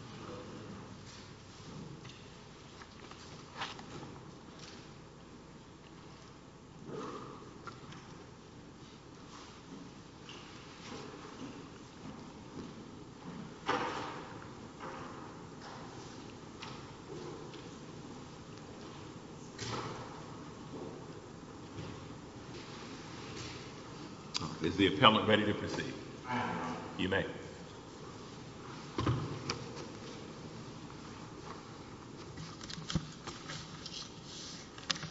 s Yes. Mhm. Mm. Is the appellant? Ready to proceed? You may. Mhm.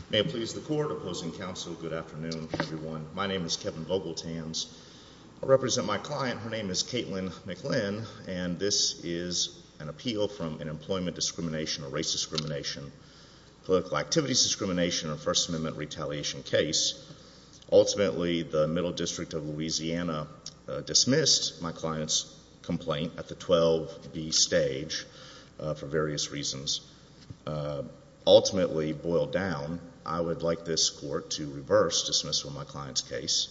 May it please the court opposing counsel. Good afternoon, everyone. My name is Kevin Global Tans represent my client. Her name is Caitlin McLean, and this is an appeal from an employment discrimination or race discrimination, political activities, discrimination and First Amendment retaliation case. Ultimately, the Middle District of Louisiana dismissed my client's complaint at the 12 B stage for various reasons. Uh, ultimately boiled down. I would like this court to reverse dismiss from my client's case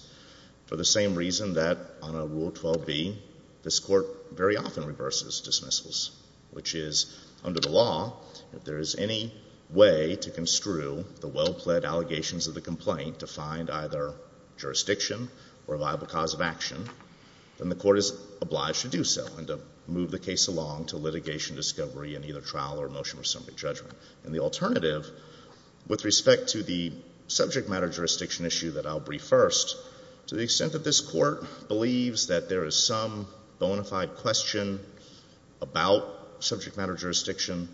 for the same reason that on a rule 12 B, this court very often reverses dismissals, which is under the law. If there is any way to construe the well pled allegations of the complaint to find either jurisdiction or a viable cause of action, then the court is obliged to do so and to move the case along to litigation, discovery and either trial or motion for somebody judgment. And the alternative with respect to the subject matter jurisdiction issue that I'll brief first, to the extent that this court believes that there is some bona fide question about subject matter jurisdiction.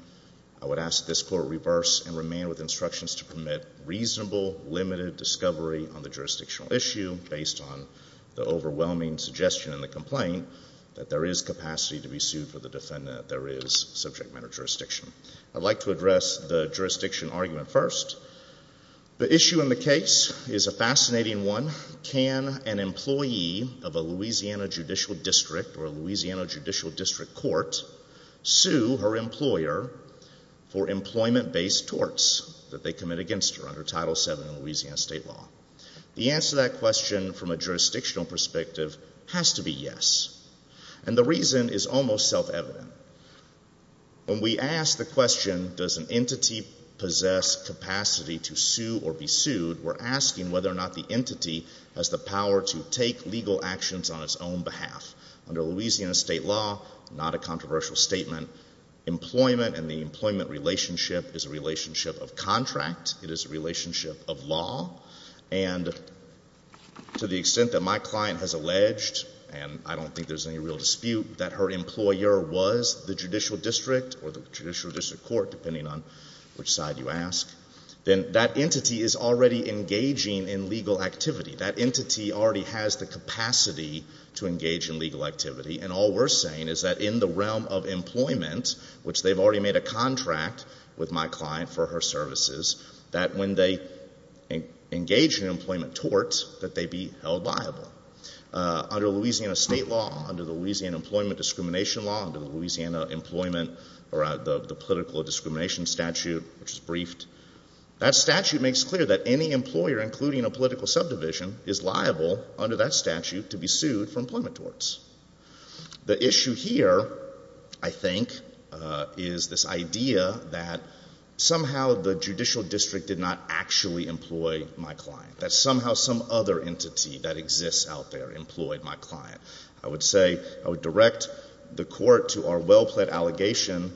I would ask this court reverse and remain with instructions to permit reasonable, limited discovery on the jurisdictional issue based on the overwhelming suggestion in the complaint that there is capacity to be sued for the defendant. There is subject matter jurisdiction. I'd like to address the jurisdiction argument first. The issue in the case is a fascinating one. Can an employee of a Louisiana Judicial District or Louisiana Judicial District Court sue her employer for employment based torts that they commit against her under Title seven in Louisiana state law? The answer to that question from a jurisdictional perspective has to be yes. And the reason is almost self-evident. When we ask the question, does an entity possess capacity to sue or be sued, we're asking whether or not the entity has the power to take legal actions on its own behalf. Under Louisiana state law, not a controversial statement, employment and the employment relationship is a relationship of contract. It is a contract. And to the extent that my client has alleged, and I don't think there's any real dispute, that her employer was the judicial district or the judicial district court, depending on which side you ask, then that entity is already engaging in legal activity. That entity already has the capacity to engage in legal activity. And all we're saying is that in the realm of employment, which they've already made a contract with my client for her employment, that they be held liable. Under Louisiana state law, under the Louisiana employment discrimination law, under the Louisiana employment or the political discrimination statute, which is briefed, that statute makes clear that any employer, including a political subdivision, is liable under that statute to be sued for employment torts. The issue here, I think, is this idea that somehow the judicial district did not actually employ my client, that somehow some other entity that exists out there employed my client. I would say, I would direct the court to our well-plaid allegation,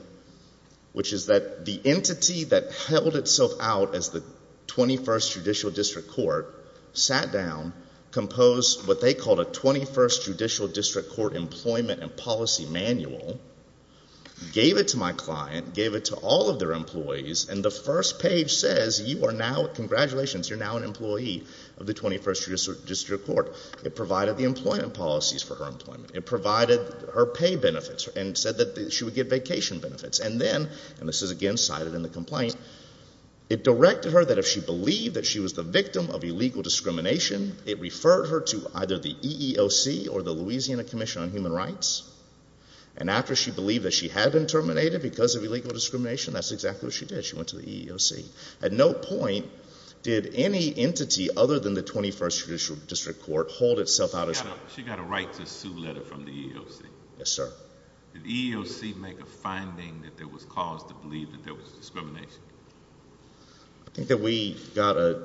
which is that the entity that held itself out as the 21st Judicial District Court sat down, composed what they called a 21st Judicial District Court Employment and Policy Manual, gave it to my client, gave it to all of their employees, and the first page says you are now, congratulations, you're now an employee of the 21st Judicial District Court. It provided the employment policies for her employment. It provided her pay benefits and said that she would get vacation benefits. And then, and this is again cited in the complaint, it directed her that if she believed that she was the victim of illegal discrimination, it referred her to either the EEOC or the Louisiana Commission on Human Rights. And after she believed that she had been terminated because of illegal discrimination, that's exactly what she did. She went to the EEOC. At no point did any entity other than the 21st Judicial District Court hold itself out as... She got a right to sue letter from the EEOC. Yes, sir. Did the EEOC make a finding that there was cause to believe that there was discrimination? I think that we got a,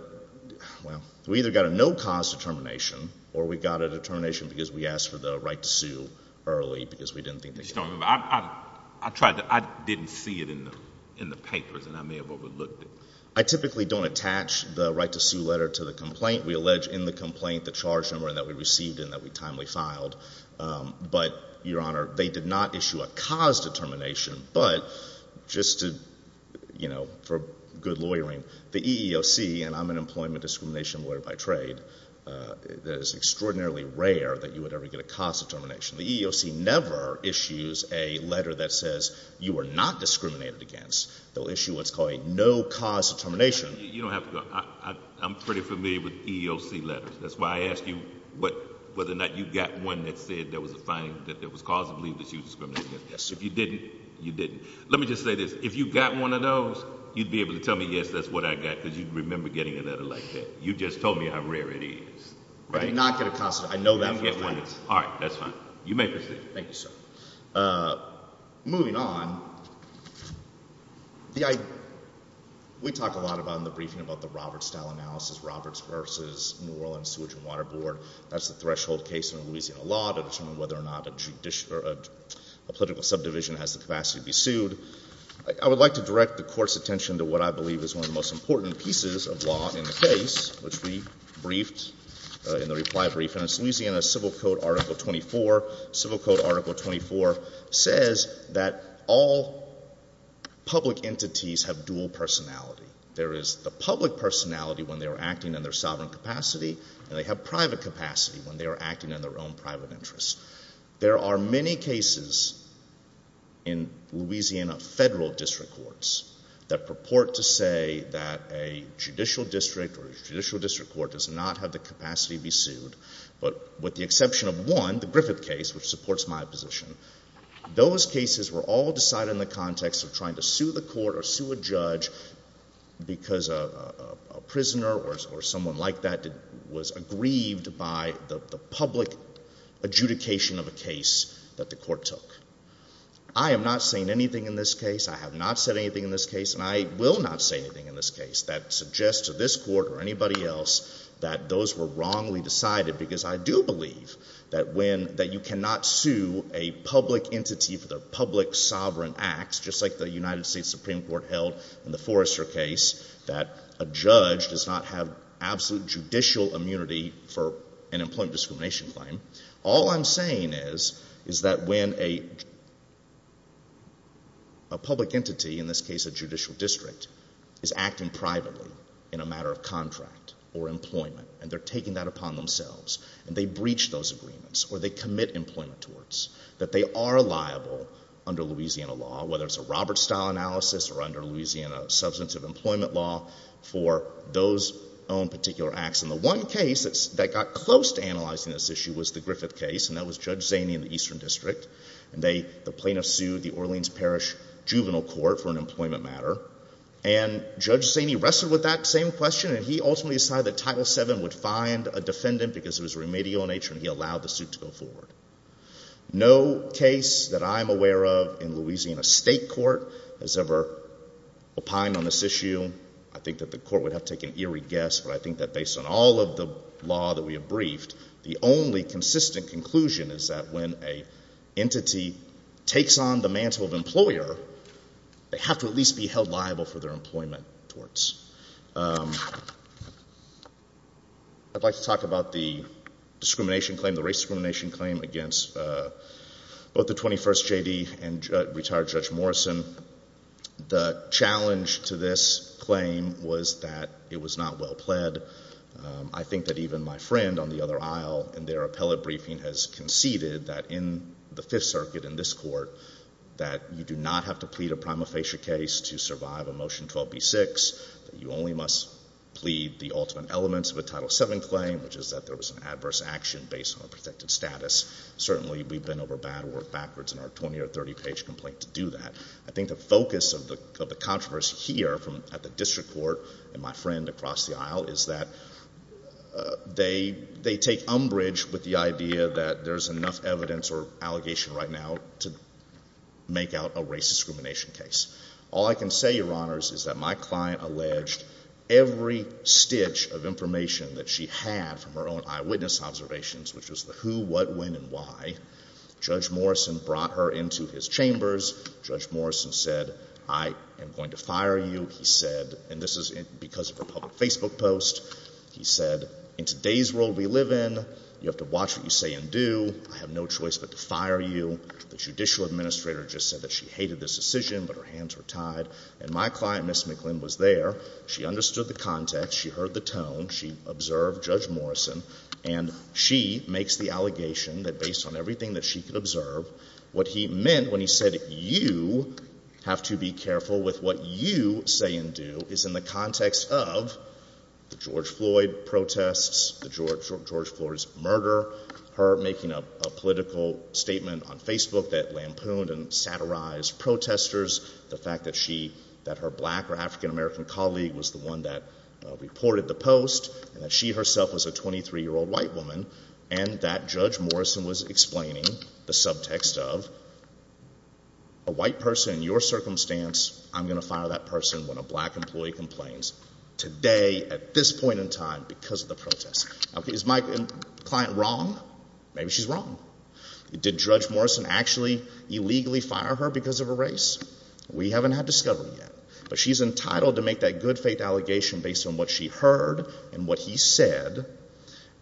well, we either got a no cause determination or we got a determination because we asked for the right to sue early because we didn't think... I tried to... I didn't see it in the papers and I may have overlooked it. I typically don't attach the right to sue letter to the complaint. We allege in the complaint the charge number that we received and that we timely filed. But, Your Honor, they did not issue a cause determination. But, just to, you know, for good lawyering, the EEOC, and I'm an employment discrimination lawyer by trade, it is extraordinarily rare that you would ever get a cause determination. The EEOC never issues a letter that says you are not discriminated against. They'll issue what's called a no cause determination. You don't have to go... I'm pretty familiar with EEOC letters. That's why I asked you whether or not you got one that said there was a finding that there was cause to believe that you were discriminated against. Yes, sir. If you didn't, you didn't. Let me just say this. If you got one of those, you'd be able to tell me, yes, that's what I got because you'd remember getting a letter like that. You just told me how rare it is. I did not get a cause determination. I know that for a fact. All right, that's fine. You may proceed. Thank you, sir. Moving on, we talk a lot about in the briefing about the Roberts style analysis, Roberts versus New Orleans Sewage and Water Board. That's the threshold case in Louisiana law to determine whether or not a judicial, a political subdivision has the capacity to be sued. I would like to direct the Court's attention to what I believe is one of the most important pieces of law in the case, which we briefed in the reply brief, and it's Louisiana Civil Code Article 24. Civil Code Article 24 says that all public entities have dual personality. There is the public personality when they were acting in their sovereign capacity, and they have private capacity when they were acting in their own private interests. There are many cases in Louisiana federal district courts that purport to say that a judicial district or a judicial district court does not have the capacity to be sued, but with the exception of one, the Griffith case, which supports my position, those cases were all decided in the context of trying to sue the court or sue a judge because a prisoner or someone like that was aggrieved by the public adjudication of a case that the court took. I am not saying anything in this case, I have not said anything in this case, and I will not say anything in this case that suggests to this court or anybody else that those were wrongly decided because I do believe that when, that you cannot sue a public entity for their public sovereign acts, just like the United States Supreme Court held in the Forrester case, that a judge does not have absolute judicial immunity for an employment discrimination claim. All I'm saying is that when a public entity, in this case a judicial district, is acting privately in a matter of contract or employment, and they're taking that upon themselves, and they breach those agreements or they commit employment torts, that they are liable under Louisiana law, whether it's a Roberts style analysis or under Louisiana substantive employment law, for those own particular acts. And the one case that got close to analyzing this issue was the Griffith case, and that was Judge Zaney in the Eastern District, and they, the plaintiffs sued the Orleans Parish Juvenile Court for an employment matter, and Judge Zaney wrestled with that same question, and he ultimately decided that Title VII would find a defendant because it was remedial in nature, and he allowed the suit to go forward. No case that I'm aware of in Louisiana state court has ever opined on this issue. I think that the court would have taken eerie guess, but I think that based on all of the law that we have briefed, the only consistent conclusion is that when a entity takes on the mantle of employer, they have to at least be held liable for their employment torts. I'd like to talk about the discrimination claim, the race discrimination claim, against both the 21st J.D. and retired Judge Morrison. The challenge to this claim was that it was not well pled. I think that even my friend on the other aisle in their appellate briefing has conceded that in the Fifth Circuit, in this court, that you do not have to plead a prima facie case to survive a Motion 12b-6, that you only must plead the ultimate elements of a Title VII claim, which is that there was an adverse action based on a protected status. Certainly, we've been over bad work backwards in our 20 or 30 page complaint to do that. I think the focus of the case across the aisle is that they take umbrage with the idea that there's enough evidence or allegation right now to make out a race discrimination case. All I can say, Your Honors, is that my client alleged every stitch of information that she had from her own eyewitness observations, which was the who, what, when, and why. Judge Morrison brought her into his chambers. Judge Morrison said, I am going to fire you. He said, and this is because of her public Facebook post, he said, in today's world we live in, you have to watch what you say and do. I have no choice but to fire you. The judicial administrator just said that she hated this decision, but her hands were tied. And my client, Ms. McLynn, was there. She understood the context. She heard the tone. She observed Judge Morrison. And she makes the allegation that based on everything that she could observe, what he meant when he said, you have to be careful with what you say and do, is in the context of the George Floyd protests, the George Floyd's murder, her making a political statement on Facebook that lampooned and satirized protesters, the fact that she, that her black or African-American colleague was the one that reported the post, and that she herself was a 23-year-old white woman, and that Judge Morrison was explaining the subtext of, a white person in your circumstance, I'm gonna fire that person when a black employee complains. Today, at this point in time, because of the protests. Okay, is my client wrong? Maybe she's wrong. Did Judge Morrison actually illegally fire her because of a race? We haven't had discovery yet. But she's entitled to make that good faith allegation based on what she heard and what he said.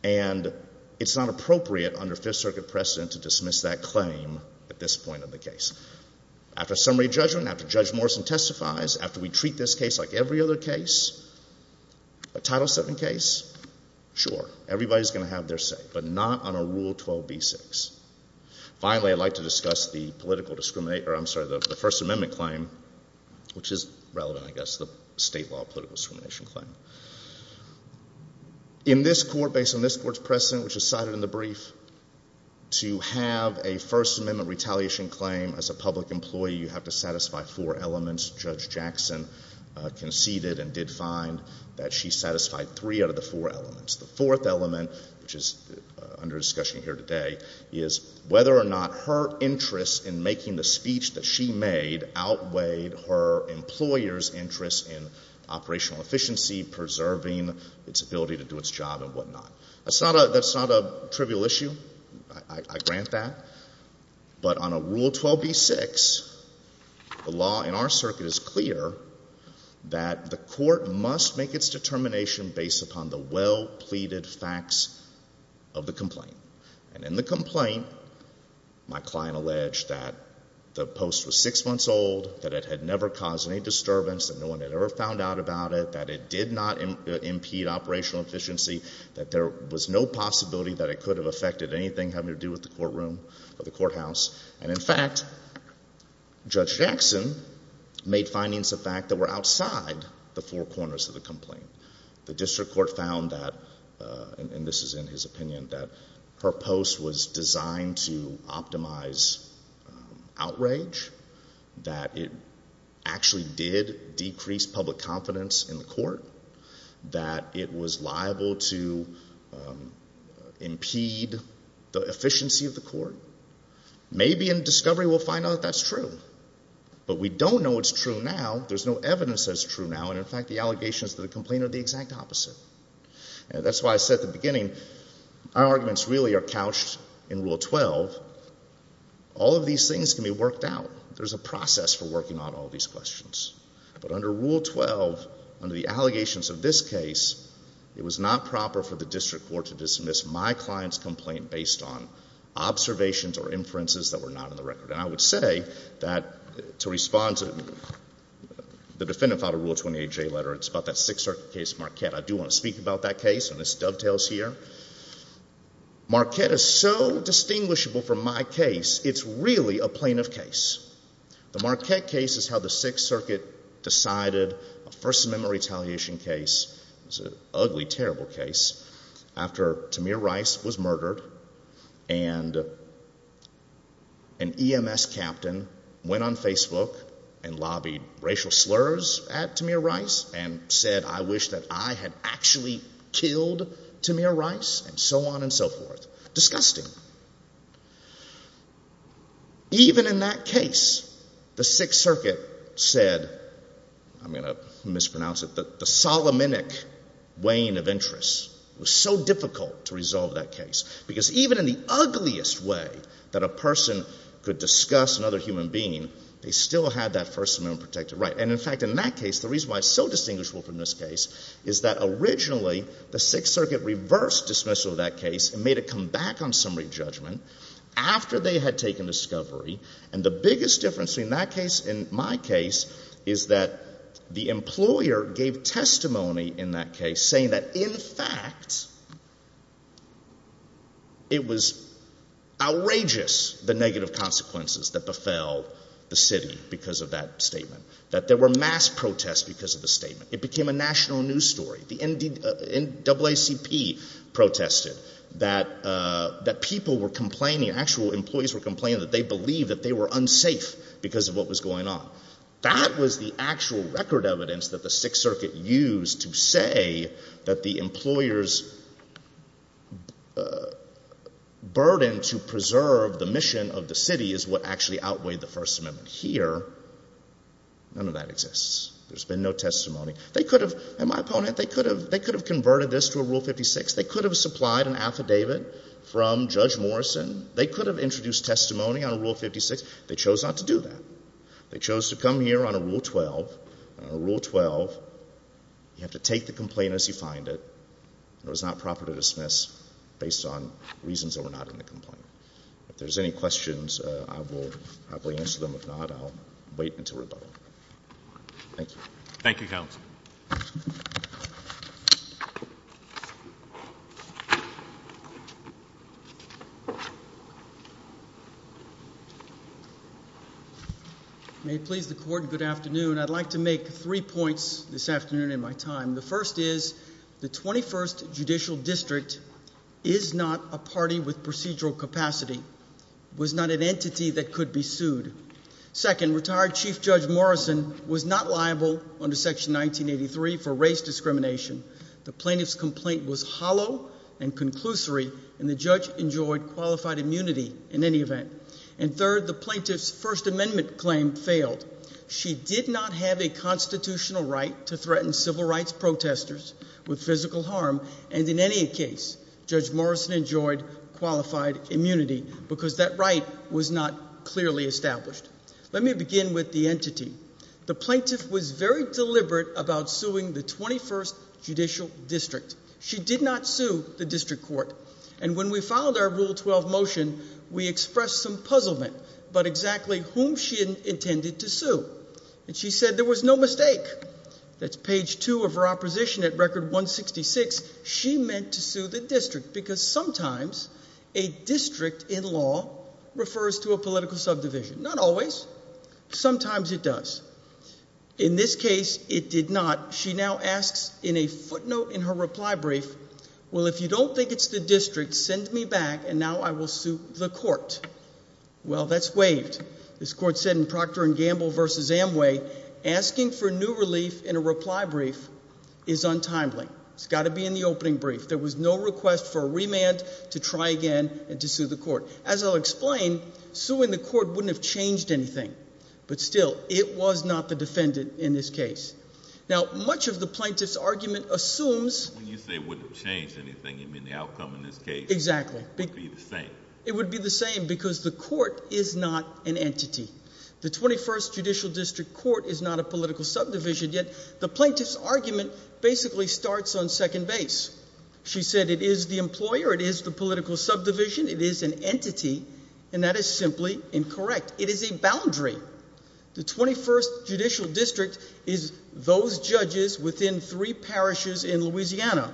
And it's not appropriate under Fifth Circuit precedent to dismiss that claim at this point in the case. After summary judgment, after Judge Morrison testifies, after we treat this case like every other case, a Title VII case, sure, everybody's gonna have their say. But not on a Rule 12b-6. Finally, I'd like to discuss the political discriminator, I'm sorry, the First Amendment claim, which is relevant, I think, to the discrimination claim. In this court, based on this court's precedent, which is cited in the brief, to have a First Amendment retaliation claim as a public employee, you have to satisfy four elements. Judge Jackson conceded and did find that she satisfied three out of the four elements. The fourth element, which is under discussion here today, is whether or not her interest in making the speech that she made outweighed her employer's interest in operational efficiency, preserving its ability to do its job, and whatnot. That's not a trivial issue. I grant that. But on a Rule 12b-6, the law in our circuit is clear that the court must make its determination based upon the well-pleaded facts of the complaint. And in the complaint, my client alleged that the post was six months old, that it had never caused any disturbance, that no one had ever found out about it, that it did not impede operational efficiency, that there was no possibility that it could have affected anything having to do with the courtroom or the courthouse. And in fact, Judge Jackson made findings of fact that were outside the four corners of the complaint. The district court found that, and this is in his opinion, that her post was designed to optimize outrage, that it actually did decrease public confidence in the court, that it was liable to impede the efficiency of the court. Maybe in discovery we'll find out that's true. But we don't know it's true now. There's no evidence that it's true now. And in fact, the allegations to the complaint are the exact opposite. And that's why I said at the beginning, our arguments really are couched in Rule 12. All of these things can be worked out. There's a process for working on all these questions. But under Rule 12, under the allegations of this case, it was not proper for the district court to dismiss my client's complaint based on observations or inferences that were not in the record. And I would say that to respond to the defendant filed a 28-J letter. It's about that Sixth Circuit case, Marquette. I do want to speak about that case, and this dovetails here. Marquette is so distinguishable from my case, it's really a plaintiff case. The Marquette case is how the Sixth Circuit decided a First Amendment retaliation case. It's an ugly, terrible case. After Tamir Rice was murdered and an EMS captain went on Facebook and lobbied racial slurs at Tamir Rice and said, I wish that I had actually killed Tamir Rice, and so on and so forth. Disgusting. Even in that case, the Sixth Circuit said, I'm going to mispronounce it, that the Solomonic wane of interest was so difficult to resolve that case. Because even in the ugliest way that a person could discuss another human being, they still had that First Amendment protected right. And in fact, in that case, the reason why it's so distinguishable from this case is that originally, the Sixth Circuit reversed dismissal of that case and made it come back on summary judgment after they had taken discovery. And the biggest difference between that case and my case is that the employer gave testimony in that case saying that, in fact, it was outrageous, the negative consequences that befell the city because of that statement. That there were mass protests because of the statement. It became a national news story. The NAACP protested that people were complaining, actual employees were complaining that they believed that they were unsafe because of what was going on. That was the actual record evidence that the Sixth Circuit used to say that the employer's burden to actually outweigh the First Amendment. Here, none of that exists. There's been no testimony. They could have, and my opponent, they could have converted this to a Rule 56. They could have supplied an affidavit from Judge Morrison. They could have introduced testimony on a Rule 56. They chose not to do that. They chose to come here on a Rule 12, and on a Rule 12, you have to take the complaint as you find it. It was not proper to dismiss based on reasons that were not in the Sixth Circuit. I'll answer them. If not, I'll wait until rebuttal. Thank you. Thank you, counsel. May it please the court. Good afternoon. I'd like to make three points this afternoon in my time. The first is the 21st Judicial District is not a party with procedural capacity, was not an entity that could be sued. Second, retired Chief Judge Morrison was not liable under Section 1983 for race discrimination. The plaintiff's complaint was hollow and conclusory, and the judge enjoyed qualified immunity in any event. And third, the plaintiff's First Amendment claim failed. She did not have a constitutional right to threaten civil rights protesters with physical harm, and in any case, Judge Morrison enjoyed qualified immunity because that right was not clearly established. Let me begin with the entity. The plaintiff was very deliberate about suing the 21st Judicial District. She did not sue the district court, and when we followed our Rule 12 motion, we expressed some puzzlement about exactly whom she intended to sue, and she said there was no mistake. That's page two of her opposition at Record 166. She meant to say that sometimes a district in law refers to a political subdivision. Not always. Sometimes it does. In this case, it did not. She now asks in a footnote in her reply brief, Well, if you don't think it's the district, send me back and now I will sue the court. Well, that's waived. This court said in Procter and Gamble versus Amway, asking for new relief in a reply brief is untimely. It's got to be in the opening brief. There was no request for a try again and to sue the court. As I'll explain, suing the court wouldn't have changed anything, but still it was not the defendant in this case. Now, much of the plaintiff's argument assumes when you say wouldn't change anything, you mean the outcome in this case? Exactly. It would be the same because the court is not an entity. The 21st Judicial District Court is not a political subdivision. Yet the plaintiff's argument basically starts on second base. She said it is the employer. It is the political subdivision. It is an entity, and that is simply incorrect. It is a boundary. The 21st Judicial District is those judges within three parishes in Louisiana.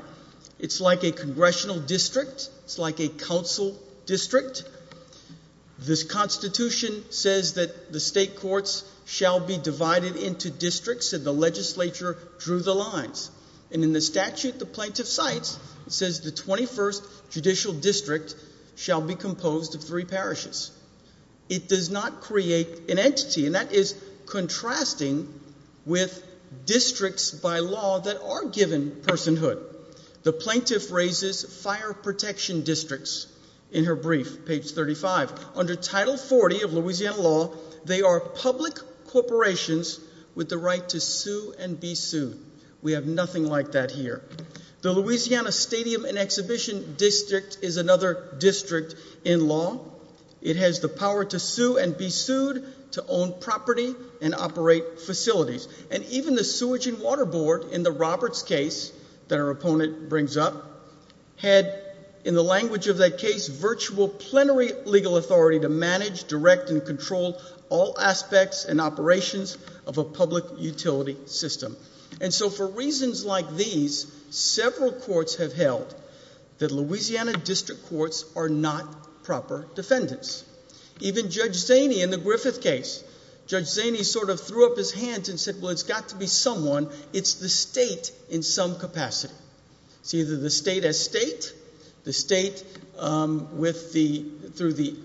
It's like a congressional district. It's like a council district. This Constitution says that the state courts shall be divided into districts and the legislature drew the lines. And in the statute, the plaintiff cites, says the 21st Judicial District shall be composed of three parishes. It does not create an entity, and that is contrasting with districts by law that are given personhood. The plaintiff raises fire protection districts in her brief, page 35. Under Title 40 of Louisiana law, they are public corporations with the right to We have nothing like that here. The Louisiana Stadium and Exhibition District is another district in law. It has the power to sue and be sued to own property and operate facilities. And even the sewage and water board in the Roberts case that our opponent brings up had, in the language of that case, virtual plenary legal authority to manage, direct and control all aspects and operations of a public utility system. And so, for reasons like these, several courts have held that Louisiana district courts are not proper defendants. Even Judge Zaney in the Griffith case, Judge Zaney sort of threw up his hands and said, Well, it's got to be someone. It's the state in some capacity. It's either the state estate, the state, um, with the through the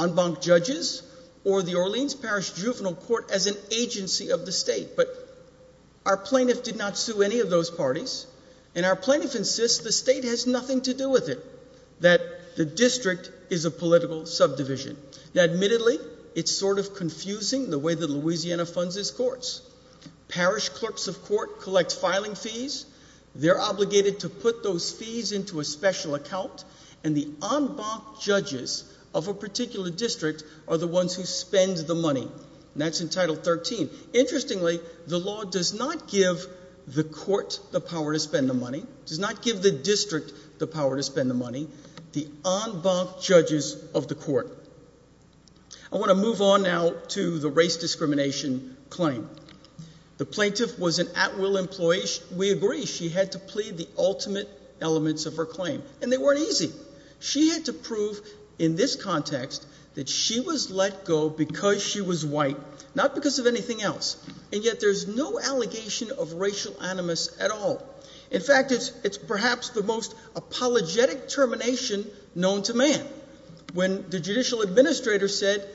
en banc judges or the Orleans Parish Juvenile Court as an agency of the state. But our plaintiff did not sue any of those parties, and our plaintiff insists the state has nothing to do with it, that the district is a political subdivision. Admittedly, it's sort of confusing the way that Louisiana funds its courts. Parish clerks of court collect filing fees. They're obligated to put those fees into a special account, and the en banc judges of a particular district are the ones who spend the money. That's in Title 13. Interestingly, the law does not give the court the power to spend the money, does not give the district the power to spend the money. The en banc judges of the court. I want to move on now to the race discrimination claim. The plaintiff was an at will employee. We agree she had to plead the ultimate elements of her claim, and they weren't easy. She had to prove in this context that she was let go because she was white, not because of anything else. And yet there's no allegation of racial animus at all. In fact, it's perhaps the most apologetic termination known to man. When the judicial administrator said,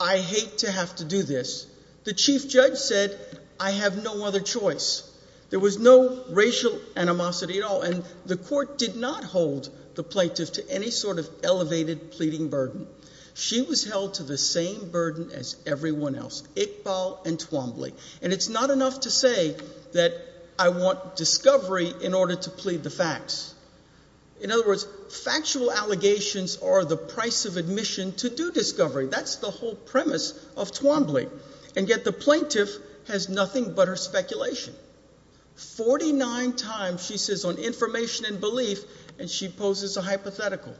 I hate to have to do this, the chief judge said, I have no other choice. There was no racial animosity at all. And the court did not hold the plaintiff to any sort of elevated pleading burden. She was held to the same burden as everyone else, Iqbal and Twombly. And it's not enough to say that I want discovery in order to plead the facts. In other words, factual allegations are the price of admission to do discovery. That's the whole premise of Twombly. And yet the information and belief, and she poses a hypothetical.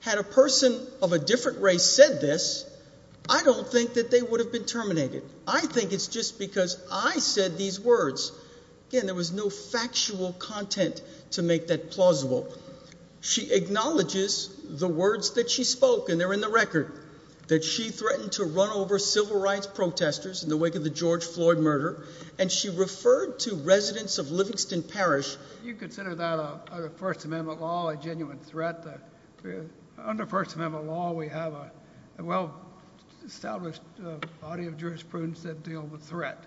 Had a person of a different race said this, I don't think that they would have been terminated. I think it's just because I said these words. Again, there was no factual content to make that plausible. She acknowledges the words that she spoke, and they're in the record, that she threatened to run over civil rights protesters in the wake of the George Floyd murder. And she referred to consider that a First Amendment law, a genuine threat. Under First Amendment law, we have a well-established body of jurisprudence that deal with threat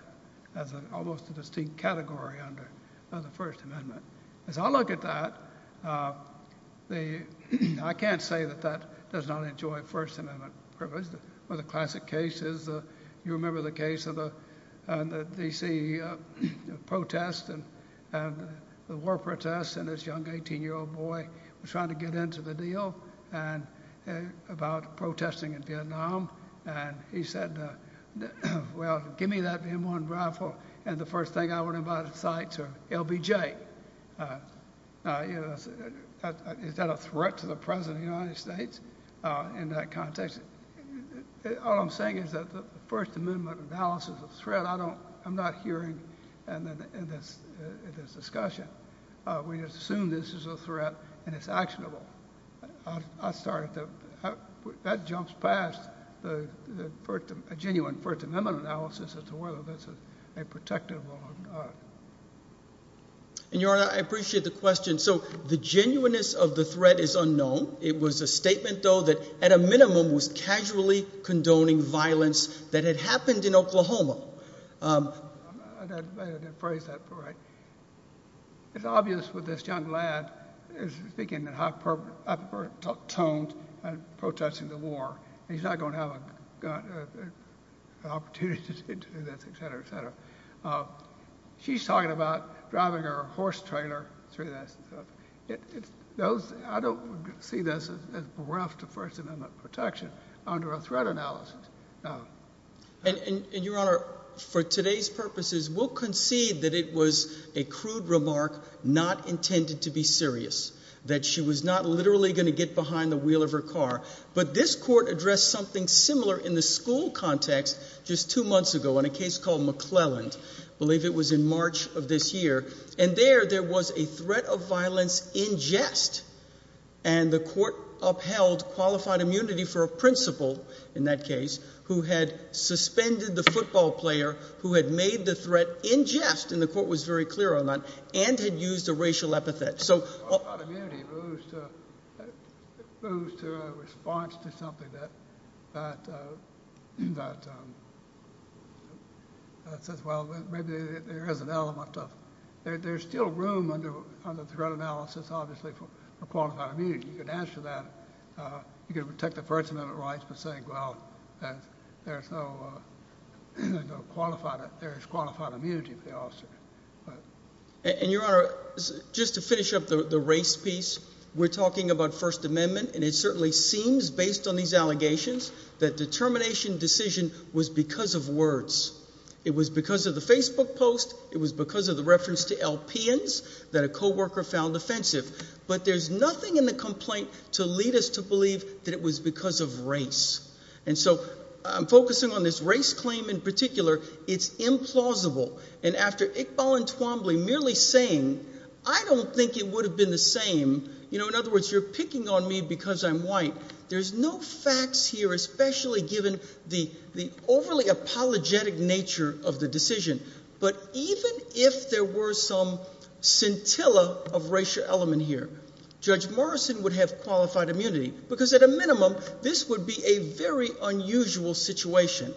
as an almost a distinct category under the First Amendment. As I look at that, I can't say that that does not enjoy First Amendment privilege. One of the classic cases, you remember the case of the D.C. protest and the war protests, and this young 18-year-old boy was trying to get into the deal about protesting in Vietnam. And he said, well, give me that M1 rifle. And the first thing I learned about the sights are LBJ. Is that a threat to the President of the United States in that context? All I'm saying is that the First Amendment analysis of threat, I'm not hearing in this discussion. We assume this is a threat, and it's actionable. I started to... That jumps past a genuine First Amendment analysis as to whether this is a protective law. And, Your Honor, I appreciate the question. So the genuineness of the threat is unknown. It was a statement, though, that at a minimum was casually condoning violence that had happened in Oklahoma. I didn't phrase that quite right. It's obvious with this young lad is speaking in hyper-toned and protesting the war, and he's not going to have an opportunity to do this, etc., etc. She's talking about driving her horse trailer through that. I don't see this as bereft of First Amendment protection under a threat analysis. And, Your Honor, for today's purposes, we'll concede that it was a crude remark not intended to be serious, that she was not literally going to get behind the wheel of her car. But this court addressed something similar in the school context just two months ago in a case called McClelland. I believe it was in March of this year. And there, there was a threat of violence in jest, and the court upheld qualified immunity for a principal in that case who had suspended the football player who had made the threat in jest, and the court was very clear on that, and had used a racial epithet. Qualified immunity moves to a response to something that says, well, maybe there is an element of, there's still room under the threat analysis, obviously, for qualified immunity. You could answer that. You could protect the First Amendment rights by saying, well, there's no qualified, there's qualified immunity for the officer. And, Your Honor, just to finish up the race piece, we're talking about First Amendment, and it certainly seems, based on these allegations, that determination decision was because of words. It was because of the Facebook post. It was because of the reference to LPNs that a co-worker found offensive. But there's nothing in the complaint to lead us to believe that it was because of race. And so I'm focusing on this race claim in particular. It's implausible. And after Iqbal and Twombly merely saying, I don't think it would have been the same, you know, in other words, you're picking on me because I'm white, there's no facts here, especially given the overly apologetic nature of the decision. But even if there were some scintilla of racial element here, Judge Morrison would have qualified immunity. Because at a minimum, this would be a very unusual situation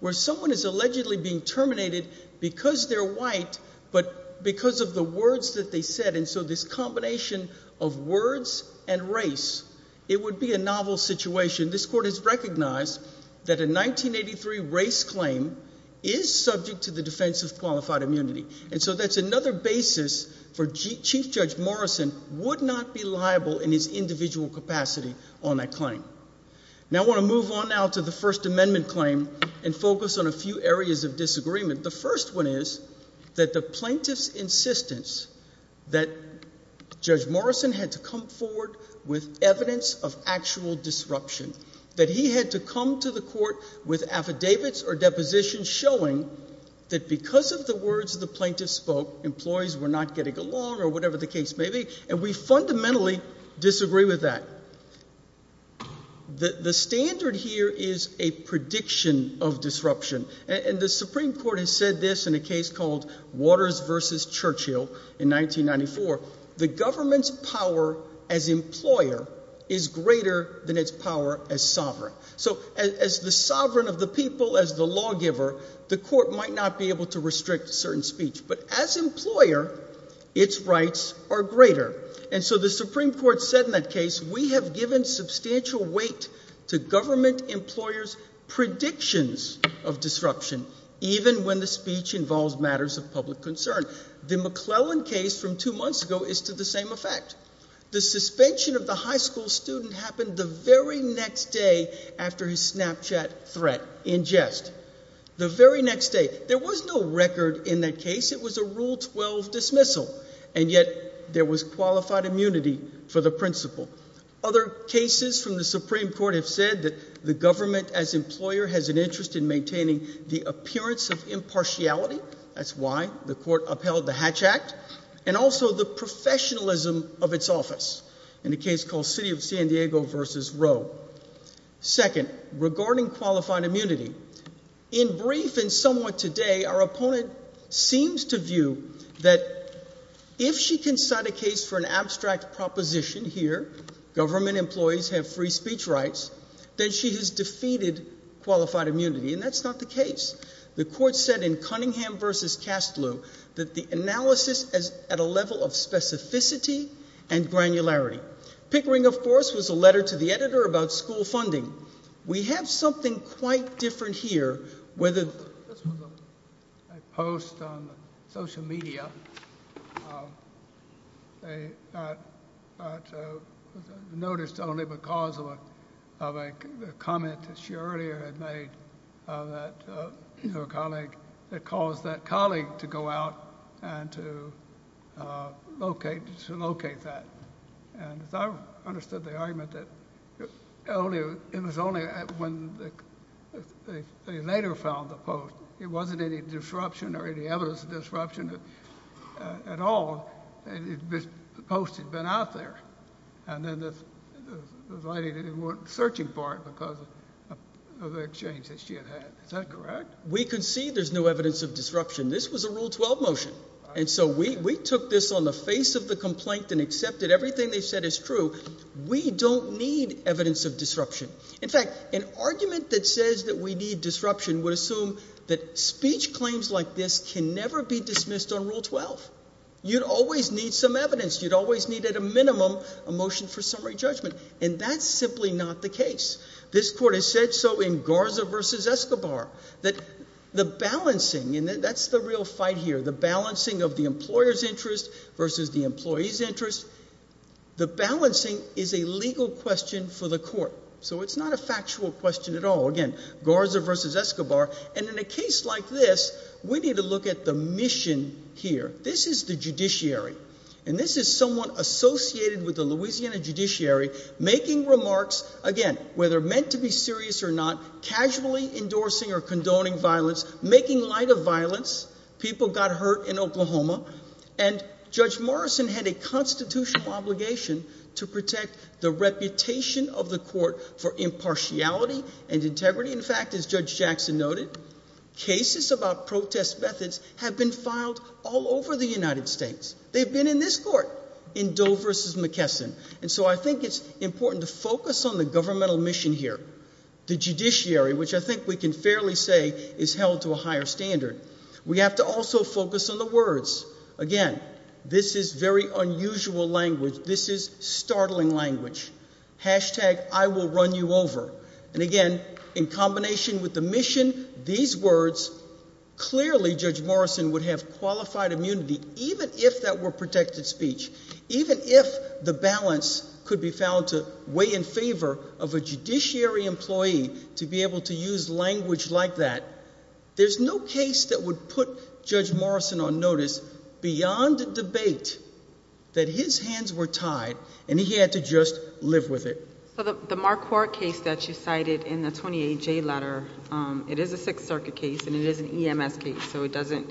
where someone is allegedly being terminated because they're white, but because of the words that they said. And so this combination of words and race, it would be a novel situation. This court has recognized that a 1983 race claim is subject to the defense of qualified immunity. And so that's another basis for Chief Judge Morrison would not be liable in his individual capacity on that claim. Now I want to move on now to the First Amendment claim and focus on a few areas of disagreement. The first one is that the plaintiff's insistence that Judge Morrison had to come forward with evidence of actual disruption, that he had to come to the court with affidavits or depositions showing that because of the words of the plaintiff spoke, employees were not getting along or whatever the case may be. And we fundamentally disagree with that. The standard here is a prediction of disruption. And the Supreme Court has said this in a case called Waters versus Churchill in 1994. The government's power as employer is greater than its power as sovereign. So as the sovereign of the people, as the lawgiver, the court might not be able to restrict certain speech. But as employer, its rights are greater. And so the Supreme Court said in that case, we have given substantial weight to the public concern. The McClellan case from two months ago is to the same effect. The suspension of the high school student happened the very next day after his Snapchat threat in jest. The very next day. There was no record in that case. It was a Rule 12 dismissal. And yet there was qualified immunity for the principal. Other cases from the Supreme Court have said that the government as employer has an interest in maintaining the appearance of impartiality. That's why the court upheld the Hatch Act and also the professionalism of its office in a case called City of San Diego versus Roe. Second, regarding qualified immunity in brief and somewhat today, our opponent seems to view that if she can cite a case for an abstract proposition here, government employees have free speech rights, then she has defeated qualified immunity. And that's not the case. The court said in Cunningham versus Kastlew that the analysis at a level of specificity and granularity. Pickering, of course, was a letter to the editor about school funding. We have something quite different here, whether this was a post on social media. Um, they, uh, noticed only because of a comment that she earlier had made that, uh, you know, a colleague that calls that colleague to go out and to, uh, locate to locate that. And I understood the argument that only it was only when they later found the post, it wasn't any disruption or any evidence of disruption at all. Post had been out there. And then this lady didn't want searching for it because of the exchange that she had had. Is that correct? We could see there's no evidence of disruption. This was a rule 12 motion. And so we took this on the face of the complaint and accepted everything they said is true. We don't need evidence of disruption. In fact, an argument that says that we need disruption would assume that speech claims like this can never be dismissed on rule 12. You'd always need some evidence. You'd always need at a minimum a motion for summary judgment. And that's simply not the case. This court has said so in Garza versus Escobar that the balancing and that's the real fight here, the balancing of the employer's interest versus the employee's interest. The balancing is a legal question for the court. So it's not a factual question at all. Again, Garza versus Escobar. And in a case like this, we need to look at the mission here. This is the judiciary. And this is someone associated with the Louisiana judiciary making remarks, again, whether meant to be serious or not, casually endorsing or condoning violence, making light of violence. People got hurt in Oklahoma. And Judge Morrison had a constitutional obligation to protect the reputation of the court for impartiality and integrity. In fact, as Judge Jackson noted, cases about protest methods have been filed all over the United States. They've been in this court, in Doe versus McKesson. And so I think it's important to focus on the governmental mission here. The judiciary, which I think we can fairly say is held to a higher standard. We have to also focus on the words. Again, this is very unusual language. This is I will run you over. And again, in combination with the mission, these words, clearly Judge Morrison would have qualified immunity, even if that were protected speech, even if the balance could be found to weigh in favor of a judiciary employee to be able to use language like that. There's no case that would put Judge Morrison on notice beyond debate that his hands were tied, and he had to just live with it. The Marquardt case that you cited in the 28 J letter. It is a Sixth Circuit case, and it is an E. M. S. Case, so it doesn't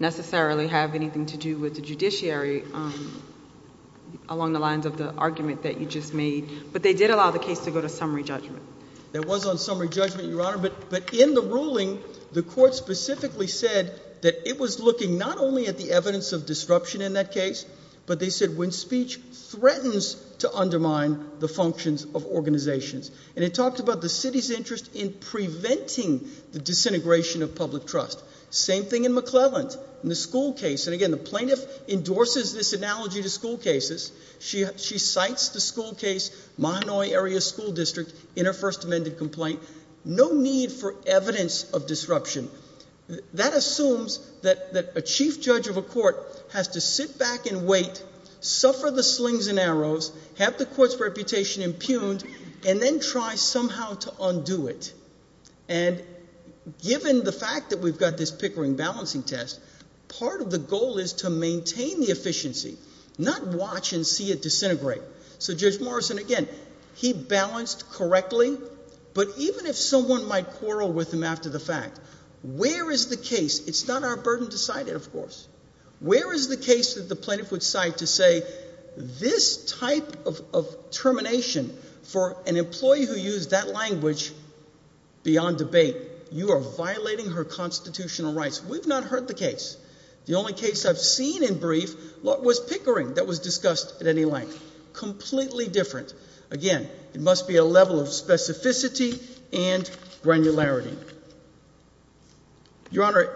necessarily have anything to do with the judiciary along the lines of the argument that you just made. But they did allow the case to go to summary judgment. There was on summary judgment, Your Honor. But in the ruling, the court specifically said that it was looking not only at the evidence of disruption in that case, but they said when speech threatens to undermine the functions of organizations, and it talked about the city's interest in preventing the disintegration of public trust. Same thing in McClelland in the school case. And again, the plaintiff endorses this analogy to school cases. She she cites the school case. My Hanoi area school district in her first amended complaint. No need for evidence of disruption. That assumes that a chief judge of a court has to suffer the slings and arrows, have the court's reputation impugned and then try somehow to undo it. And given the fact that we've got this Pickering balancing test, part of the goal is to maintain the efficiency, not watch and see it disintegrate. So Judge Morrison again, he balanced correctly. But even if someone might quarrel with him after the fact, where is the case? It's not our burden decided, of course. Where is the case that the plaintiff would cite to say this type of termination for an employee who used that language beyond debate, you are violating her constitutional rights. We've not heard the case. The only case I've seen in brief was Pickering that was discussed at any length. Completely different. Again, it must be a level of specificity and granularity. Your Honor,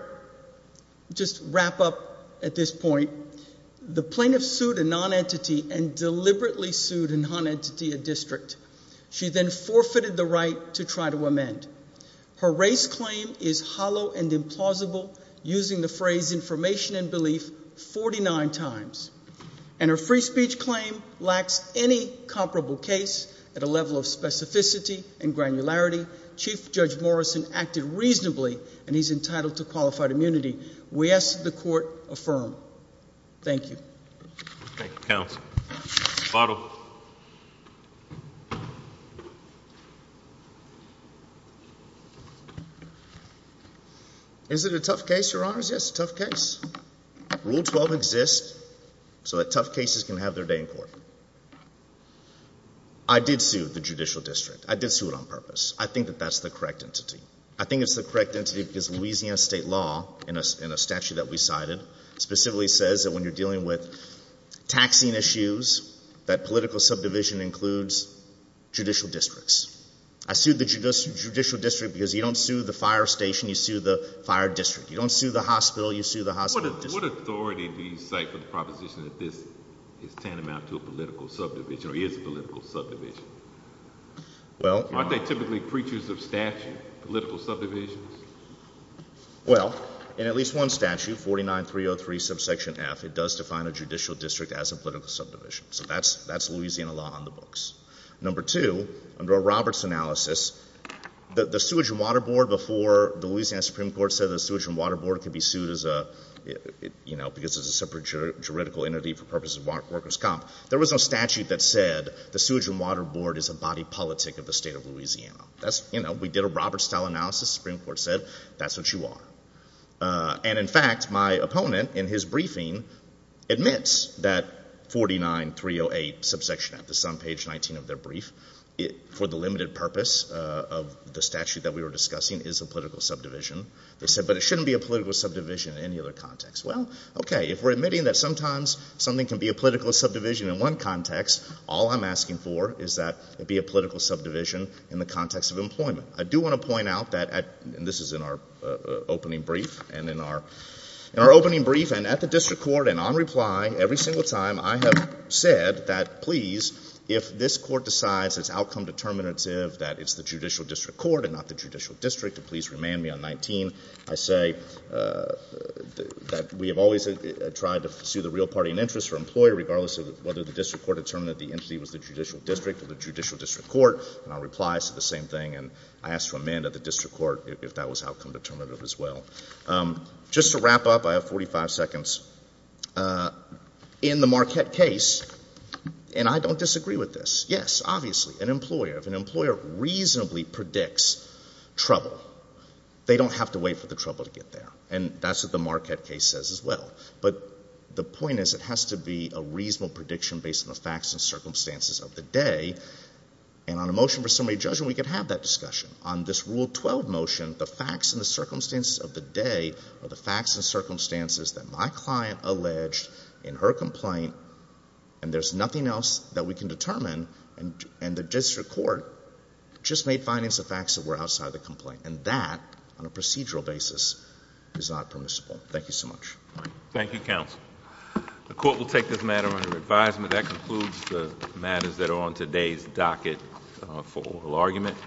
just wrap up at this point. The plaintiff sued a non entity and deliberately sued a non entity, a district. She then forfeited the right to try to amend. Her race claim is hollow and implausible, using the phrase information and belief 49 times. And her free speech claim lacks any comparable case at a level of specificity and granularity. Chief Judge Morrison acted reasonably, and he's entitled to qualified immunity. We ask the court affirm. Thank you. Thank you, Counsel. Bottle. Is it a tough case? Your honor's? Yes. Tough case. Rule 12 exists so that tough cases can have their day in court. I did see the judicial district. I did see it on purpose. I think that that's the correct entity. I think it's the correct entity because Louisiana state law in a statute that we cited specifically says that when you're dealing with taxing issues, that political subdivision includes judicial districts. I sued the judicial district because you don't sue the fire station, you sue the fire district. You don't sue the hospital, you sue the hospital. What authority do you cite for the proposition that this is tantamount to a political subdivision or is a political subdivision? Well, aren't they typically creatures of statute, political subdivisions? Well, in at least one statute, 49303 subsection F, it does define a judicial district as a political subdivision. So that's that's Louisiana law on the books. Number two, under a Roberts analysis, the sewage and water board before the Louisiana Supreme Court said the sewage and water board could be sued as a, you know, because it's a separate juridical entity for purposes of workers comp. There was no statute that said the sewage and water board is a body politic of the state of Louisiana. That's, you know, we did a Roberts style analysis, Supreme Court said, that's what you are. And in fact, my opponent in his briefing admits that 49308 subsection F, this is on page 19 of their brief, for the limited purpose of the statute that we were discussing is a political subdivision. They said, but it shouldn't be a political subdivision in any other context. Well, okay. If we're admitting that sometimes something can be a political subdivision in one context, all I'm asking for is that it be a political subdivision in the context of employment. I do want to point out that at, and this is in our opening brief and in our, in our opening brief and at the district court and on reply, every single time I have said that, please, if this court decides it's outcome determinative, that it's the judicial district court and not the judicial district, please remand me on 19. I say that we have always tried to pursue the real party and interest for employee, regardless of whether the district court determined that the entity was the district court. And I'll reply to the same thing. And I asked to amend at the district court if that was outcome determinative as well. Just to wrap up, I have 45 seconds. In the Marquette case, and I don't disagree with this. Yes, obviously, an employer, if an employer reasonably predicts trouble, they don't have to wait for the trouble to get there. And that's what the Marquette case says as well. But the point is, it has to be a reasonable prediction based on the facts and circumstances of the day. And on a motion for summary judgment, we could have that discussion. On this Rule 12 motion, the facts and the circumstances of the day are the facts and circumstances that my client alleged in her complaint, and there's nothing else that we can determine, and, and the district court just made findings of facts that were outside the complaint. And that, on a procedural basis, is not permissible. Thank you so much. Thank you, counsel. The court will take this matter under advisement. That concludes the matters that are on today's docket for oral argument.